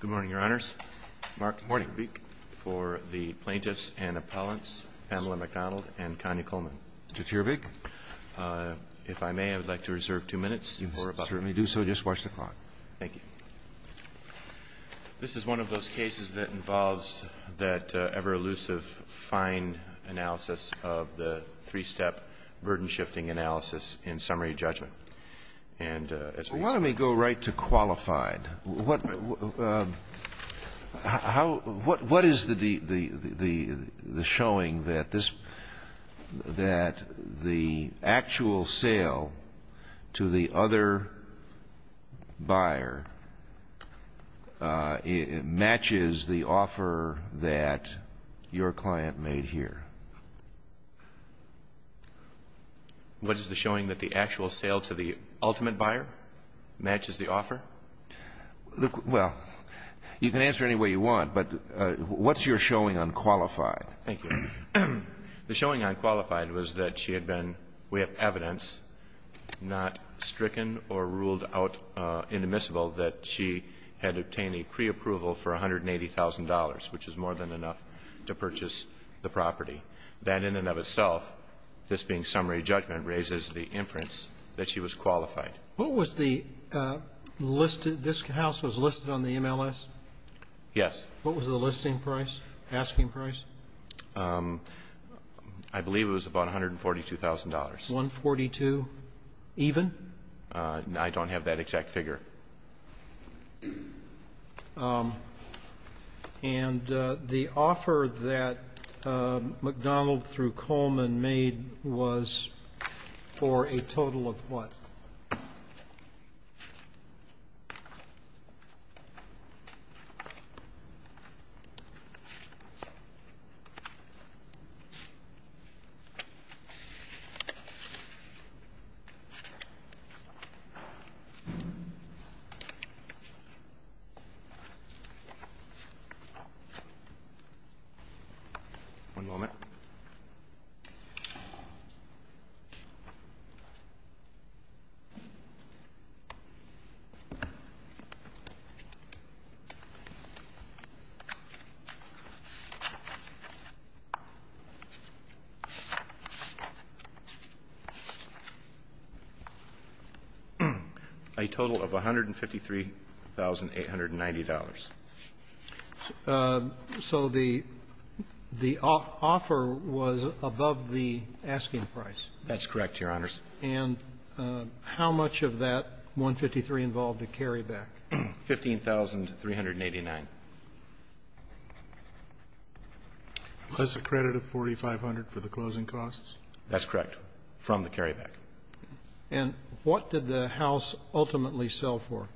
Good morning, Your Honors. Mark Teerbeek for the Plaintiffs and Appellants, Pamela McDonald and Connie Coleman. Mr. Teerbeek, if I may, I would like to reserve two minutes. If you do so, just watch the clock. Thank you. This is one of those cases that involves that ever-elusive, fine analysis of the three-step burden-shifting analysis in summary judgment. And as we see Well, why don't we go right to qualified. What is the showing that the actual sale to the other buyer matches the offer that your client made here? What is the showing that the actual sale to the ultimate buyer matches the offer? Well, you can answer any way you want, but what's your showing on qualified? Thank you. The showing on qualified was that she had been, we have evidence, not stricken or ruled out inadmissible that she had obtained a preapproval for $180,000, which is more than enough to purchase the property. That in and of itself, this being summary judgment, raises the inference that she was qualified. What was the listed this house was listed on the MLS? Yes. What was the listing price, asking price? I believe it was about $142,000. 142, even? I don't have that exact figure. And the offer that McDonald through Coleman made was for a total of what? $142,000. $142,000. $142,000. Oh. A total of $153,890. So the offer was above the asking price. That's correct, Your Honors. And how much of that $153,000 involved a carryback? $15,389. That's a credit of $4,500 for the closing costs? That's correct, from the carryback. And what did the House ultimately sell for?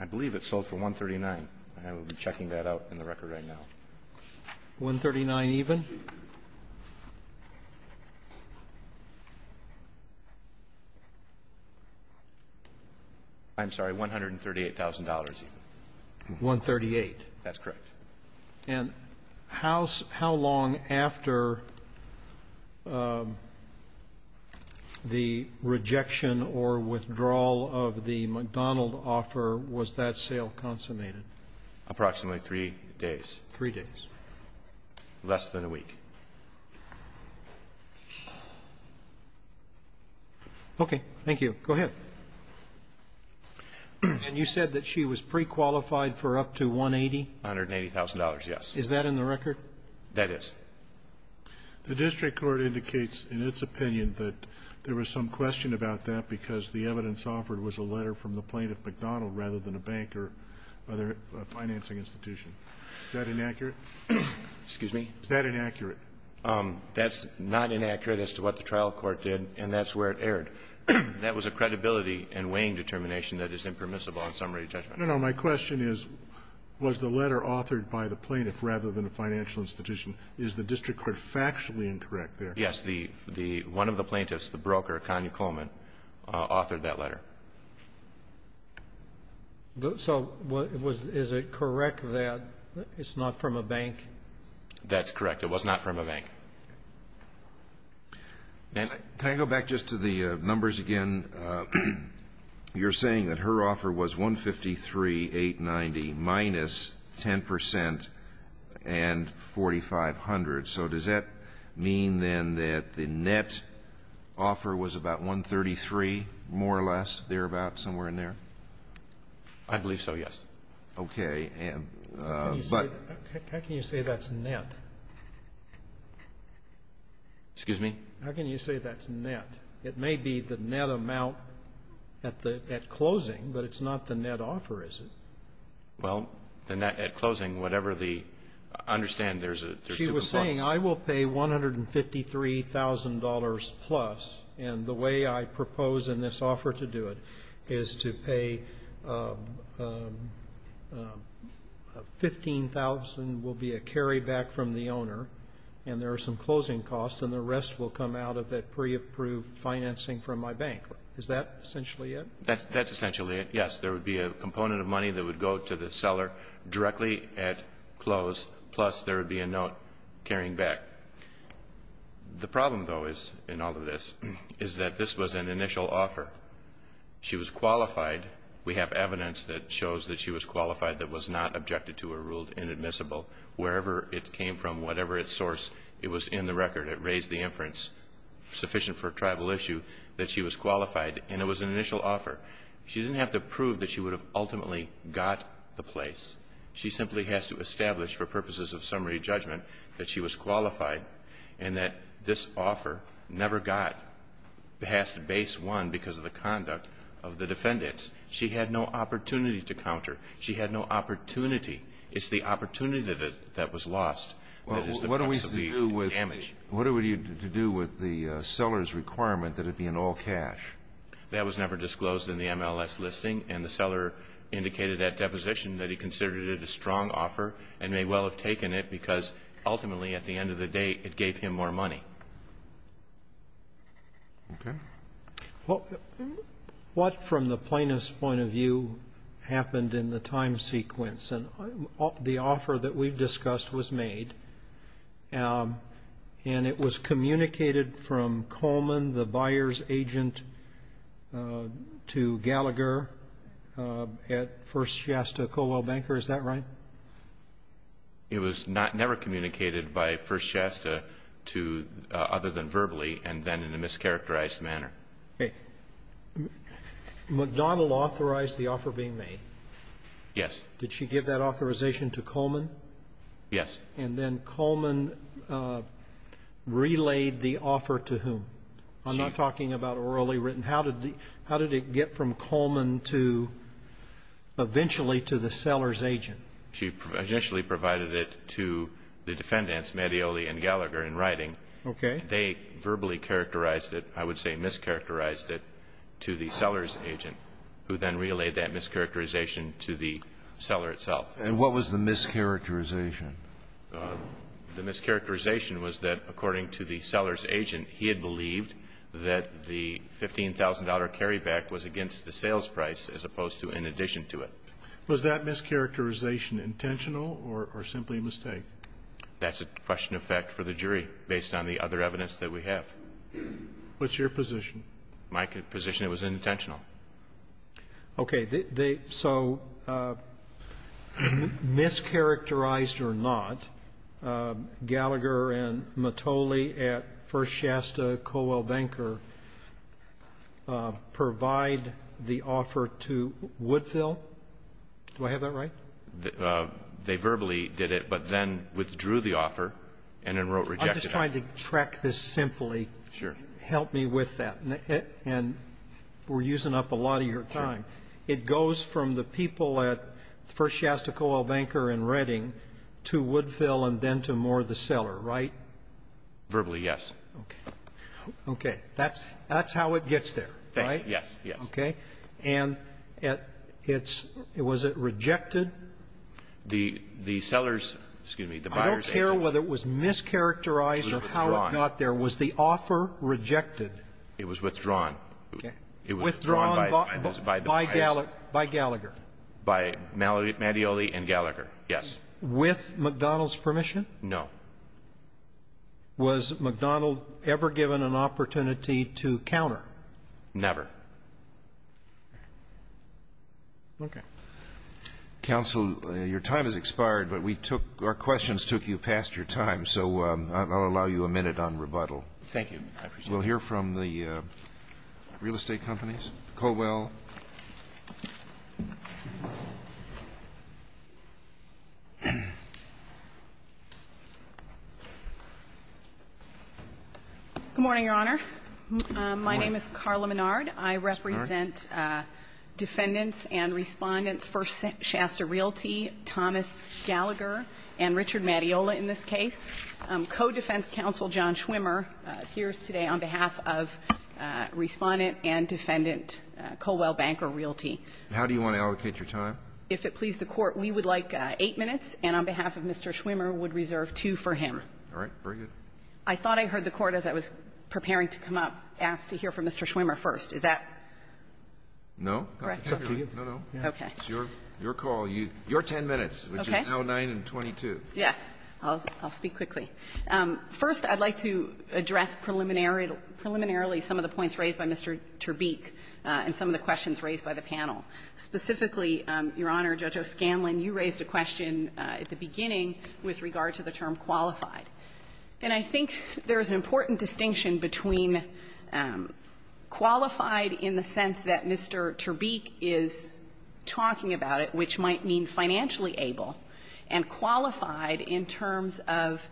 I believe it sold for $139,000. I will be checking that out in the record right now. $139,000 even? I'm sorry, $138,000 even. $138,000. That's correct. And how long after the rejection or withdrawal of the McDonald offer was that sale consummated? Approximately three days. Three days. Less than a week. Okay. Thank you. Go ahead. And you said that she was prequalified for up to $180,000? $180,000, yes. Is that in the record? That is. The district court indicates in its opinion that there was some question about that because the evidence offered was a letter from the plaintiff, McDonald, rather than a bank or other financing institution. Is that inaccurate? Excuse me? Is that inaccurate? That's not inaccurate as to what the trial court did, and that's where it erred. But that was a credibility and weighing determination that is impermissible on summary judgment. No, no. My question is, was the letter authored by the plaintiff rather than a financial institution? Is the district court factually incorrect there? Yes. One of the plaintiffs, the broker, Connie Coleman, authored that letter. So is it correct that it's not from a bank? That's correct. It was not from a bank. And can I go back just to the numbers again? You're saying that her offer was 153,890 minus 10 percent and 4,500. So does that mean, then, that the net offer was about 133, more or less, thereabout, somewhere in there? I believe so, yes. Okay. How can you say that's net? Excuse me? How can you say that's net? It may be the net amount at closing, but it's not the net offer, is it? Well, the net at closing, whatever the ---- I understand there's two components. She was saying, I will pay $153,000 plus, and the way I propose in this offer to do it is to pay 15,000 will be a carryback from the owner, and there are some closing costs, and the rest will come out of that pre-approved financing from my bank. Is that essentially it? That's essentially it, yes. There would be a component of money that would go to the seller directly at close, plus there would be a note carrying back. The problem, though, is, in all of this, is that this was an initial offer. She was qualified. We have evidence that shows that she was qualified that was not objected to or ruled inadmissible. Wherever it came from, whatever its source, it was in the record. It raised the inference, sufficient for a tribal issue, that she was qualified, and it was an initial offer. She didn't have to prove that she would have ultimately got the place. She simply has to establish for purposes of summary judgment that she was qualified and that this offer never got past base one because of the conduct of the defendants. She had no opportunity to counter. She had no opportunity. It's the opportunity that was lost that is the possibly damage. Well, what are we to do with the seller's requirement that it be in all cash? That was never disclosed in the MLS listing, and the seller indicated that deposition that he considered it a strong offer and may well have taken it because, ultimately, at the end of the day, it gave him more money. Okay. Well, what, from the plaintiff's point of view, happened in the time sequence? And the offer that we discussed was made, and it was communicated from Coleman, the buyer's agent, to Gallagher at First Shasta Cowell Banker. Is that right? It was never communicated by First Shasta to other than verbally and then in a mischaracterized manner. Okay. McDonnell authorized the offer being made. Yes. Did she give that authorization to Coleman? Yes. And then Coleman relayed the offer to whom? I'm not talking about orally written. How did it get from Coleman to eventually to the seller's agent? She initially provided it to the defendants, Mattioli and Gallagher, in writing. Okay. They verbally characterized it, I would say mischaracterized it, to the seller's agent, who then relayed that mischaracterization to the seller itself. And what was the mischaracterization? The mischaracterization was that, according to the seller's agent, he had believed that the $15,000 carryback was against the sales price as opposed to in addition to it. Was that mischaracterization intentional or simply a mistake? That's a question of fact for the jury, based on the other evidence that we have. What's your position? My position, it was intentional. Okay. They so mischaracterized or not, Gallagher and Mattioli at First Shasta, Colwell Banker, provide the offer to Woodville? Do I have that right? They verbally did it, but then withdrew the offer and then wrote rejected. I'm just trying to track this simply. Sure. Help me with that. And we're using up a lot of your time. It goes from the people at First Shasta, Colwell Banker in Redding to Woodville and then to Moore the seller, right? Verbally, yes. Okay. Okay. That's how it gets there, right? Yes. Yes. Yes. Okay. And it's was it rejected? The seller's, excuse me, the buyer's agent. I don't care whether it was mischaracterized or how it got there. It was withdrawn. Was the offer rejected? It was withdrawn. Okay. It was withdrawn by Gallagher. By Gallagher. By Mattioli and Gallagher, yes. With McDonald's permission? No. Was McDonald ever given an opportunity to counter? Never. Okay. Counsel, your time has expired, but we took our questions took you past your time, so I'll allow you a minute on rebuttal. Thank you. We'll hear from the real estate companies. Colwell. Good morning, Your Honor. Good morning. My name is Carla Menard. I represent defendants and respondents for Shasta Realty, Thomas Gallagher and Richard Mattioli in this case. Co-defense counsel John Schwimmer appears today on behalf of Respondent and Defendant Colwell Banker Realty. How do you want to allocate your time? If it please the Court, we would like 8 minutes, and on behalf of Mr. Schwimmer would reserve 2 for him. All right. Very good. I thought I heard the Court, as I was preparing to come up, ask to hear from Mr. Schwimmer first. Is that correct? No. No, no. Okay. It's your call. Your 10 minutes, which is now 9 and 22. Yes. I'll speak quickly. First, I'd like to address preliminarily some of the points raised by Mr. Terbeek and some of the questions raised by the panel. Specifically, Your Honor, Judge O'Scanlan, you raised a question at the beginning with regard to the term qualified. And I think there's an important distinction between qualified in the sense that Mr. Terbeek is talking about it, which might mean financially able, and qualified in terms of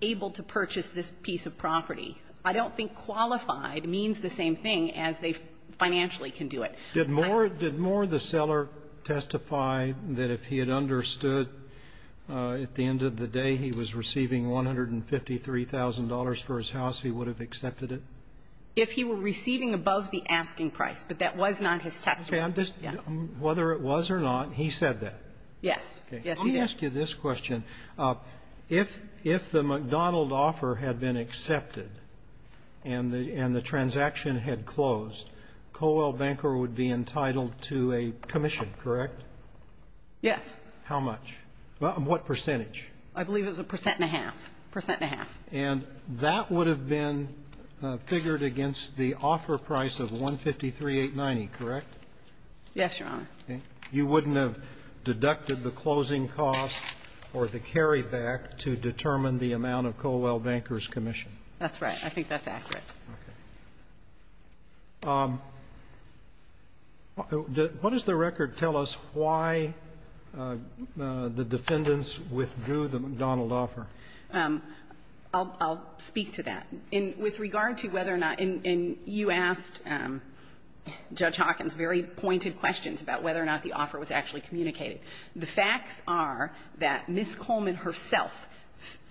able to purchase this piece of property. I don't think qualified means the same thing as they financially can do it. Did Moore, did Moore, the seller, testify that if he had understood at the end of the day he was receiving $153,000 for his house, he would have accepted it? If he were receiving above the asking price, but that was not his testimony. Yes. Whether it was or not, he said that. Yes. Yes, he did. Let me ask you this question. If the McDonald offer had been accepted and the transaction had closed, Colwell Banker would be entitled to a commission, correct? Yes. How much? What percentage? I believe it was a percent and a half, percent and a half. And that would have been figured against the offer price of 153,890, correct? Yes, Your Honor. You wouldn't have deducted the closing cost or the carryback to determine the amount of Colwell Banker's commission? That's right. I think that's accurate. Okay. What does the record tell us why the defendants withdrew the McDonald offer? I'll speak to that. With regard to whether or not you asked Judge Hawkins very pointed questions about whether or not the offer was actually communicated, the facts are that Ms. Coleman herself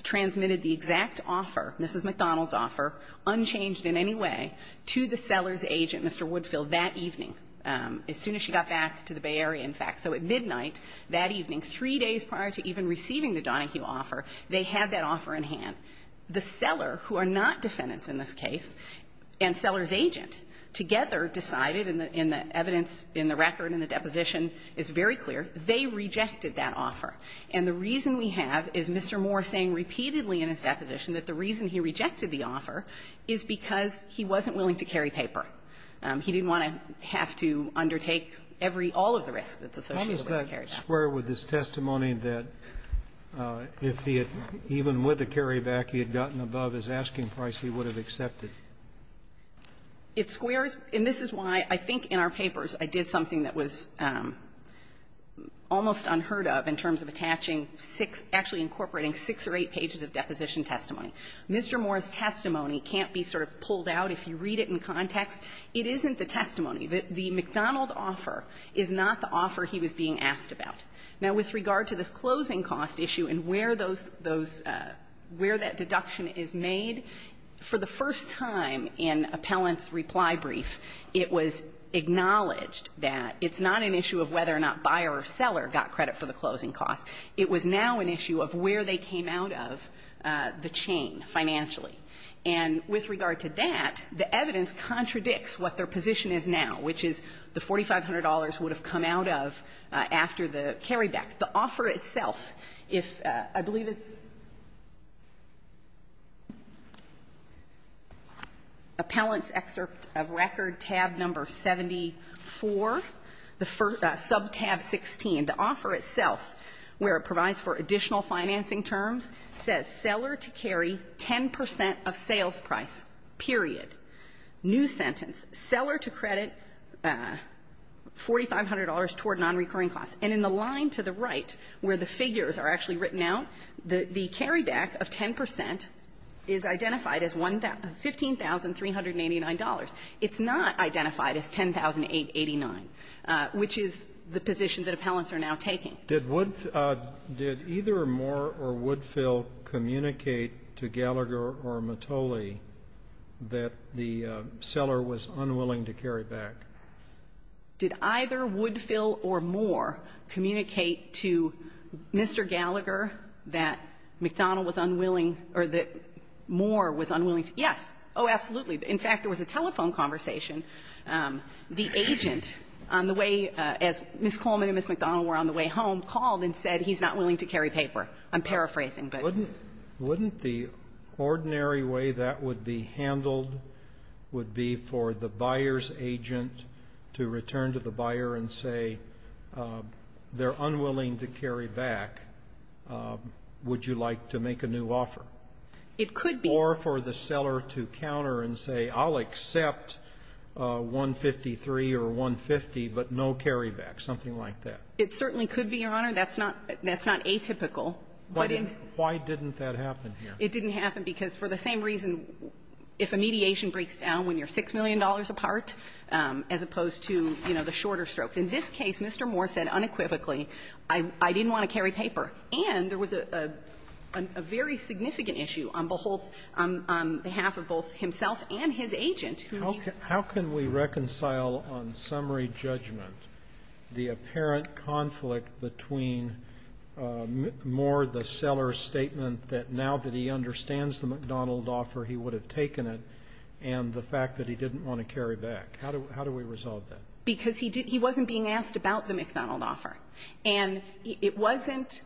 transmitted the exact offer, Mrs. McDonald's offer, unchanged in any way, to the seller's agent, Mr. Woodfield, that evening, as soon as she got back to the Bay Area, in fact. So at midnight that evening, 3 days prior to even receiving the Donahue offer, they had that offer in hand. The seller, who are not defendants in this case, and seller's agent, together decided, and the evidence in the record and the deposition is very clear, they rejected that offer. And the reason we have is Mr. Moore saying repeatedly in his deposition that the reason he rejected the offer is because he wasn't willing to carry paper. He didn't want to have to undertake every all of the risk that's associated with the carryback. Sotomayor, does that square with his testimony that if he had, even with the carryback, he had gotten above his asking price, he would have accepted? It squares. And this is why I think in our papers I did something that was almost unheard of in terms of attaching six, actually incorporating six or eight pages of deposition testimony. Mr. Moore's testimony can't be sort of pulled out if you read it in context. It isn't the testimony. The McDonald offer is not the offer he was being asked about. Now, with regard to this closing cost issue and where those, those, where that deduction is made, for the first time in Appellant's reply brief, it was acknowledged that it's not an issue of whether or not buyer or seller got credit for the closing cost. It was now an issue of where they came out of the chain financially. And with regard to that, the evidence contradicts what their position is now, which is the $4,500 would have come out of after the carryback. The offer itself, if I believe it's Appellant's excerpt of record, tab number 74, the sub-tab 16, the offer itself, where it provides for additional financing terms, says seller to carry 10 percent of sales price, period. New sentence. Seller to credit $4,500 toward nonrecurring costs. And in the line to the right where the figures are actually written out, the carryback of 10 percent is identified as $15,389. It's not identified as $10,889, which is the position that Appellants are now taking. Did either Moore or Woodfill communicate to Gallagher or Mottoli that the seller was unwilling to carry back? Did either Woodfill or Moore communicate to Mr. Gallagher that McDonald was unwilling or that Moore was unwilling to? Yes. Oh, absolutely. In fact, there was a telephone conversation. The agent, on the way, as Ms. Coleman and Ms. McDonald were on the way home, called and said he's not willing to carry paper. I'm paraphrasing, but you know. Wouldn't the ordinary way that would be handled would be for the buyer's agent to return to the buyer and say, they're unwilling to carry back, would you like to make a new offer? It could be. Or for the seller to counter and say, I'll accept 153 or 150, but no carryback, something like that. It certainly could be, Your Honor. That's not atypical. Why didn't that happen here? It didn't happen because for the same reason, if a mediation breaks down when you're $6 million apart, as opposed to, you know, the shorter strokes. In this case, Mr. Moore said unequivocally, I didn't want to carry paper. And there was a very significant issue on behalf of both himself and his agent. How can we reconcile on summary judgment the apparent conflict between more the seller's statement that now that he understands the McDonald offer, he would have taken it, and the fact that he didn't want to carry back? How do we resolve that? Because he wasn't being asked about the McDonald offer. And it wasn't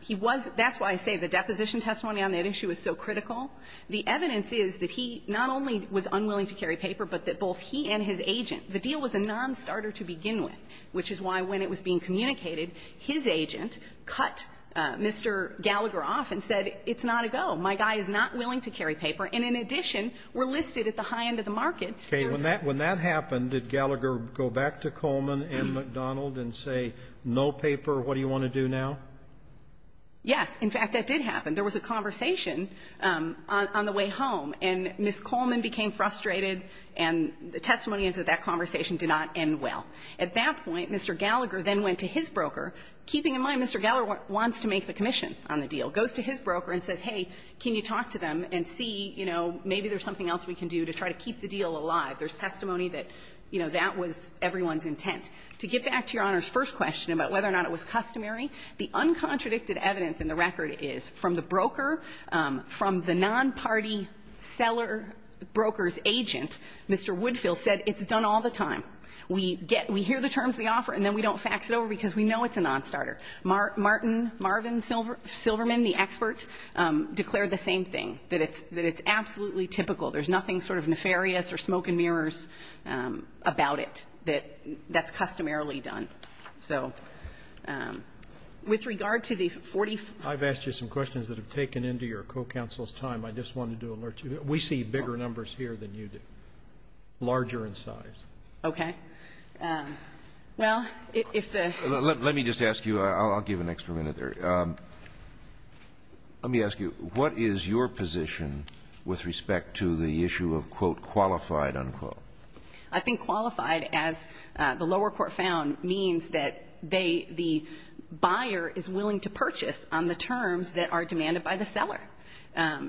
he was that's why I say the deposition testimony on that issue is so critical. The evidence is that he not only was unwilling to carry paper, but that both he and his agent, the deal was a nonstarter to begin with, which is why when it was being communicated, his agent cut Mr. Gallagher off and said, it's not a go. My guy is not willing to carry paper. And in addition, we're listed at the high end of the market. Okay. When that happened, did Gallagher go back to Coleman and McDonald and say, no paper, what do you want to do now? Yes. In fact, that did happen. There was a conversation on the way home. And Ms. Coleman became frustrated, and the testimony is that that conversation did not end well. At that point, Mr. Gallagher then went to his broker, keeping in mind Mr. Gallagher wants to make the commission on the deal, goes to his broker and says, hey, can you talk to them and see, you know, maybe there's something else we can do to try to keep the deal alive. There's testimony that, you know, that was everyone's intent. To get back to Your Honor's first question about whether or not it was customary, the uncontradicted evidence in the record is from the broker, from the nonparty seller, broker's agent, Mr. Woodfill said, it's done all the time. We get we hear the terms of the offer, and then we don't fax it over because we know it's a nonstarter. Martin, Marvin Silverman, the expert, declared the same thing, that it's absolutely typical. There's nothing sort of nefarious or smoke and mirrors about it, that that's customarily done. So with regard to the 40 ---- I've asked you some questions that have taken into your co-counsel's time. I just wanted to alert you. We see bigger numbers here than you do, larger in size. Okay. Well, if the ---- Let me just ask you, I'll give an extra minute there. Let me ask you, what is your position with respect to the issue of, quote, qualified, unquote? I think qualified, as the lower court found, means that they, the buyer is willing to purchase on the terms that are demanded by the seller.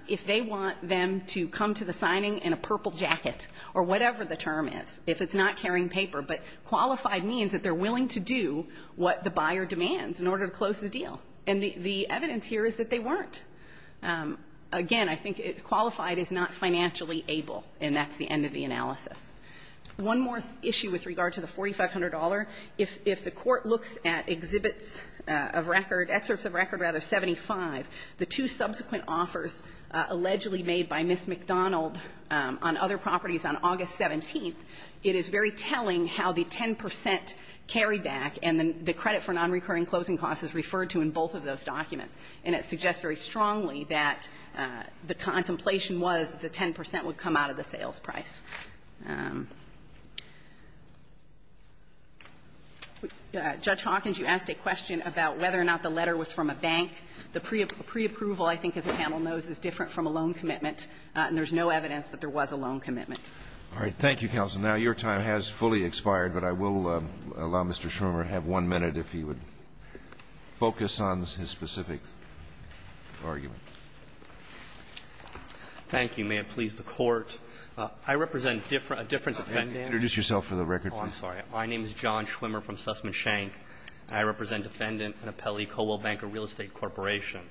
If they want them to come to the signing in a purple jacket, or whatever the term is, if it's not carrying paper. But qualified means that they're willing to do what the buyer demands in order to close the deal. And the evidence here is that they weren't. Again, I think qualified is not financially able, and that's the end of the analysis. One more issue with regard to the $4,500. If the Court looks at exhibits of record, excerpts of record, rather, 75, the two subsequent offers allegedly made by Ms. McDonald on other properties on August 17th, it is very telling how the 10 percent carryback and the credit for nonrecurring closing costs is referred to in both of those documents. And it suggests very strongly that the contemplation was the 10 percent would come out of the sales price. Judge Hawkins, you asked a question about whether or not the letter was from a bank. The preapproval, I think, as the panel knows, is different from a loan commitment, and there's no evidence that there was a loan commitment. Roberts. Thank you, counsel. Now, your time has fully expired, but I will allow Mr. Schwimmer to have one minute if he would focus on his specific argument. Thank you. May it please the Court. I represent a different defendant. Introduce yourself for the record, please. Oh, I'm sorry. My name is John Schwimmer from Sussman Shank, and I represent Defendant and Appellee of the Colwell Banker Real Estate Corporation.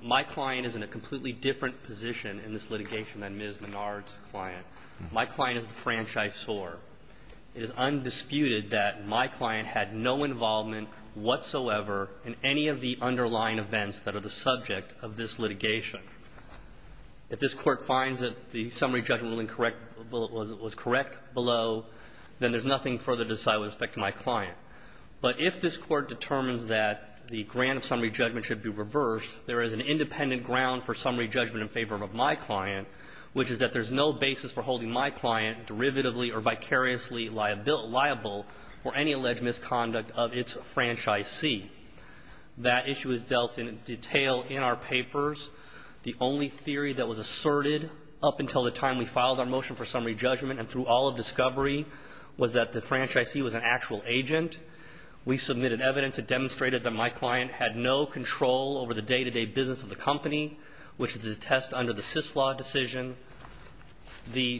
My client is in a completely different position in this litigation than Ms. Menard's client. My client is the franchisor. It is undisputed that my client had no involvement whatsoever in any of the underlying events that are the subject of this litigation. If this Court finds that the summary judgment ruling correct was correct below, then there's nothing further to decide with respect to my client. But if this Court determines that the grant of summary judgment should be reversed, there is an independent ground for summary judgment in favor of my client, which is that there's no basis for holding my client derivatively or vicariously liable for any alleged misconduct of its franchisee. That issue is dealt in detail in our papers. The only theory that was asserted up until the time we filed our motion for summary judgment was that Ms. McDonald had no knowledge of her client's identity. We submitted evidence that demonstrated that my client had no control over the day-to-day business of the company, which is to test under the Syslaw decision. The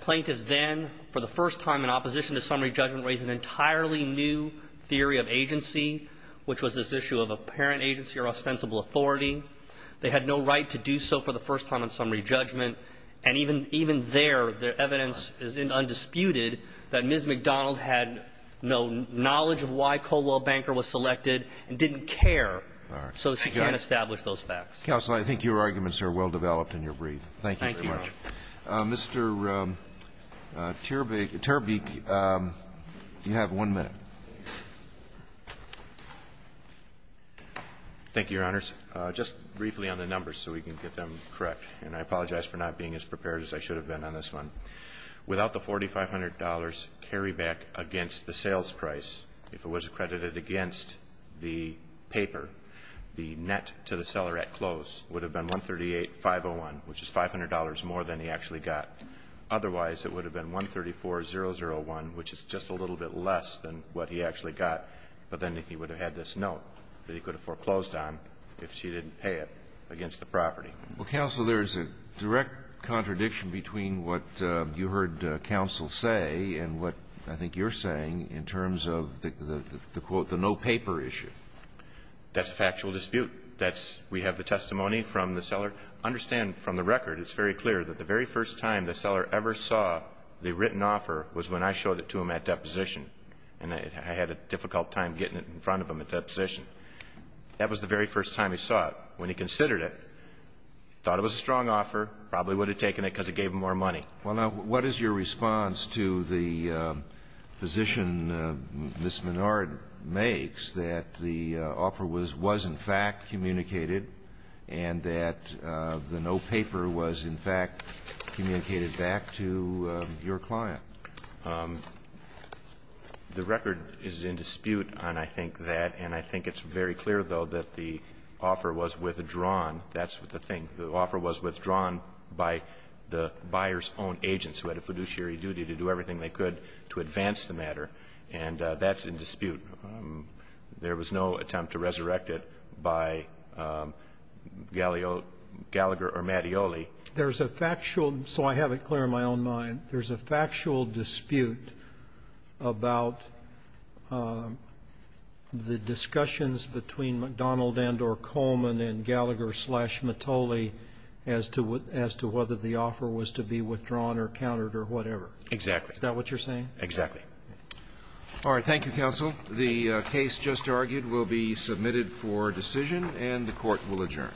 plaintiffs then, for the first time in opposition to summary judgment, raised an entirely new theory of agency, which was this issue of apparent agency or ostensible authority. They had no right to do so for the first time in summary judgment, and even there, the evidence is undisputed that Ms. McDonald had no knowledge of why Colwell Banker was selected and didn't care so that she can't establish those facts. Roberts. I think your arguments are well-developed and you're brief. Thank you very much. Thank you. Mr. Terbeek, you have one minute. Thank you, Your Honors. Just briefly on the numbers so we can get them correct, and I apologize for not being as prepared as I should have been on this one, without the $4,500 carryback against the sales price, if it was accredited against the paper, the net to the seller at close would have been $138,501, which is $500 more than he actually got. Otherwise, it would have been $134,001, which is just a little bit less than what he actually got, but then he would have had this note that he could have foreclosed on if she didn't pay it against the property. Well, counsel, there is a direct contradiction between what you heard counsel say and what I think you're saying in terms of the quote, the no paper issue. That's a factual dispute. That's we have the testimony from the seller. Understand from the record, it's very clear that the very first time the seller ever saw the written offer was when I showed it to him at deposition, and I had a difficult time getting it in front of him at deposition. That was the very first time he saw it. When he considered it, thought it was a strong offer, probably would have taken it because it gave him more money. Well, now, what is your response to the position Ms. Menard makes that the offer was in fact communicated and that the no paper was in fact communicated back to your client? The record is in dispute on I think that, and I think it's very clear, though, that the offer was withdrawn. That's the thing. The offer was withdrawn by the buyer's own agents who had a fiduciary duty to do everything they could to advance the matter, and that's in dispute. There was no attempt to resurrect it by Gallagher or Mattioli. There's a factual, so I have it clear in my own mind, there's a factual dispute about the discussions between McDonald and or Coleman and Gallagher slash Mattioli as to whether the offer was to be withdrawn or countered or whatever. Exactly. Is that what you're saying? Exactly. All right. Thank you, counsel. The case just argued will be submitted for decision, and the Court will adjourn. One, three, two, all persons having had this hearing on the United States Court of Appeals of the Ninth Circuit will now depart. This Court, for this session, now stands adjourned. Thank you.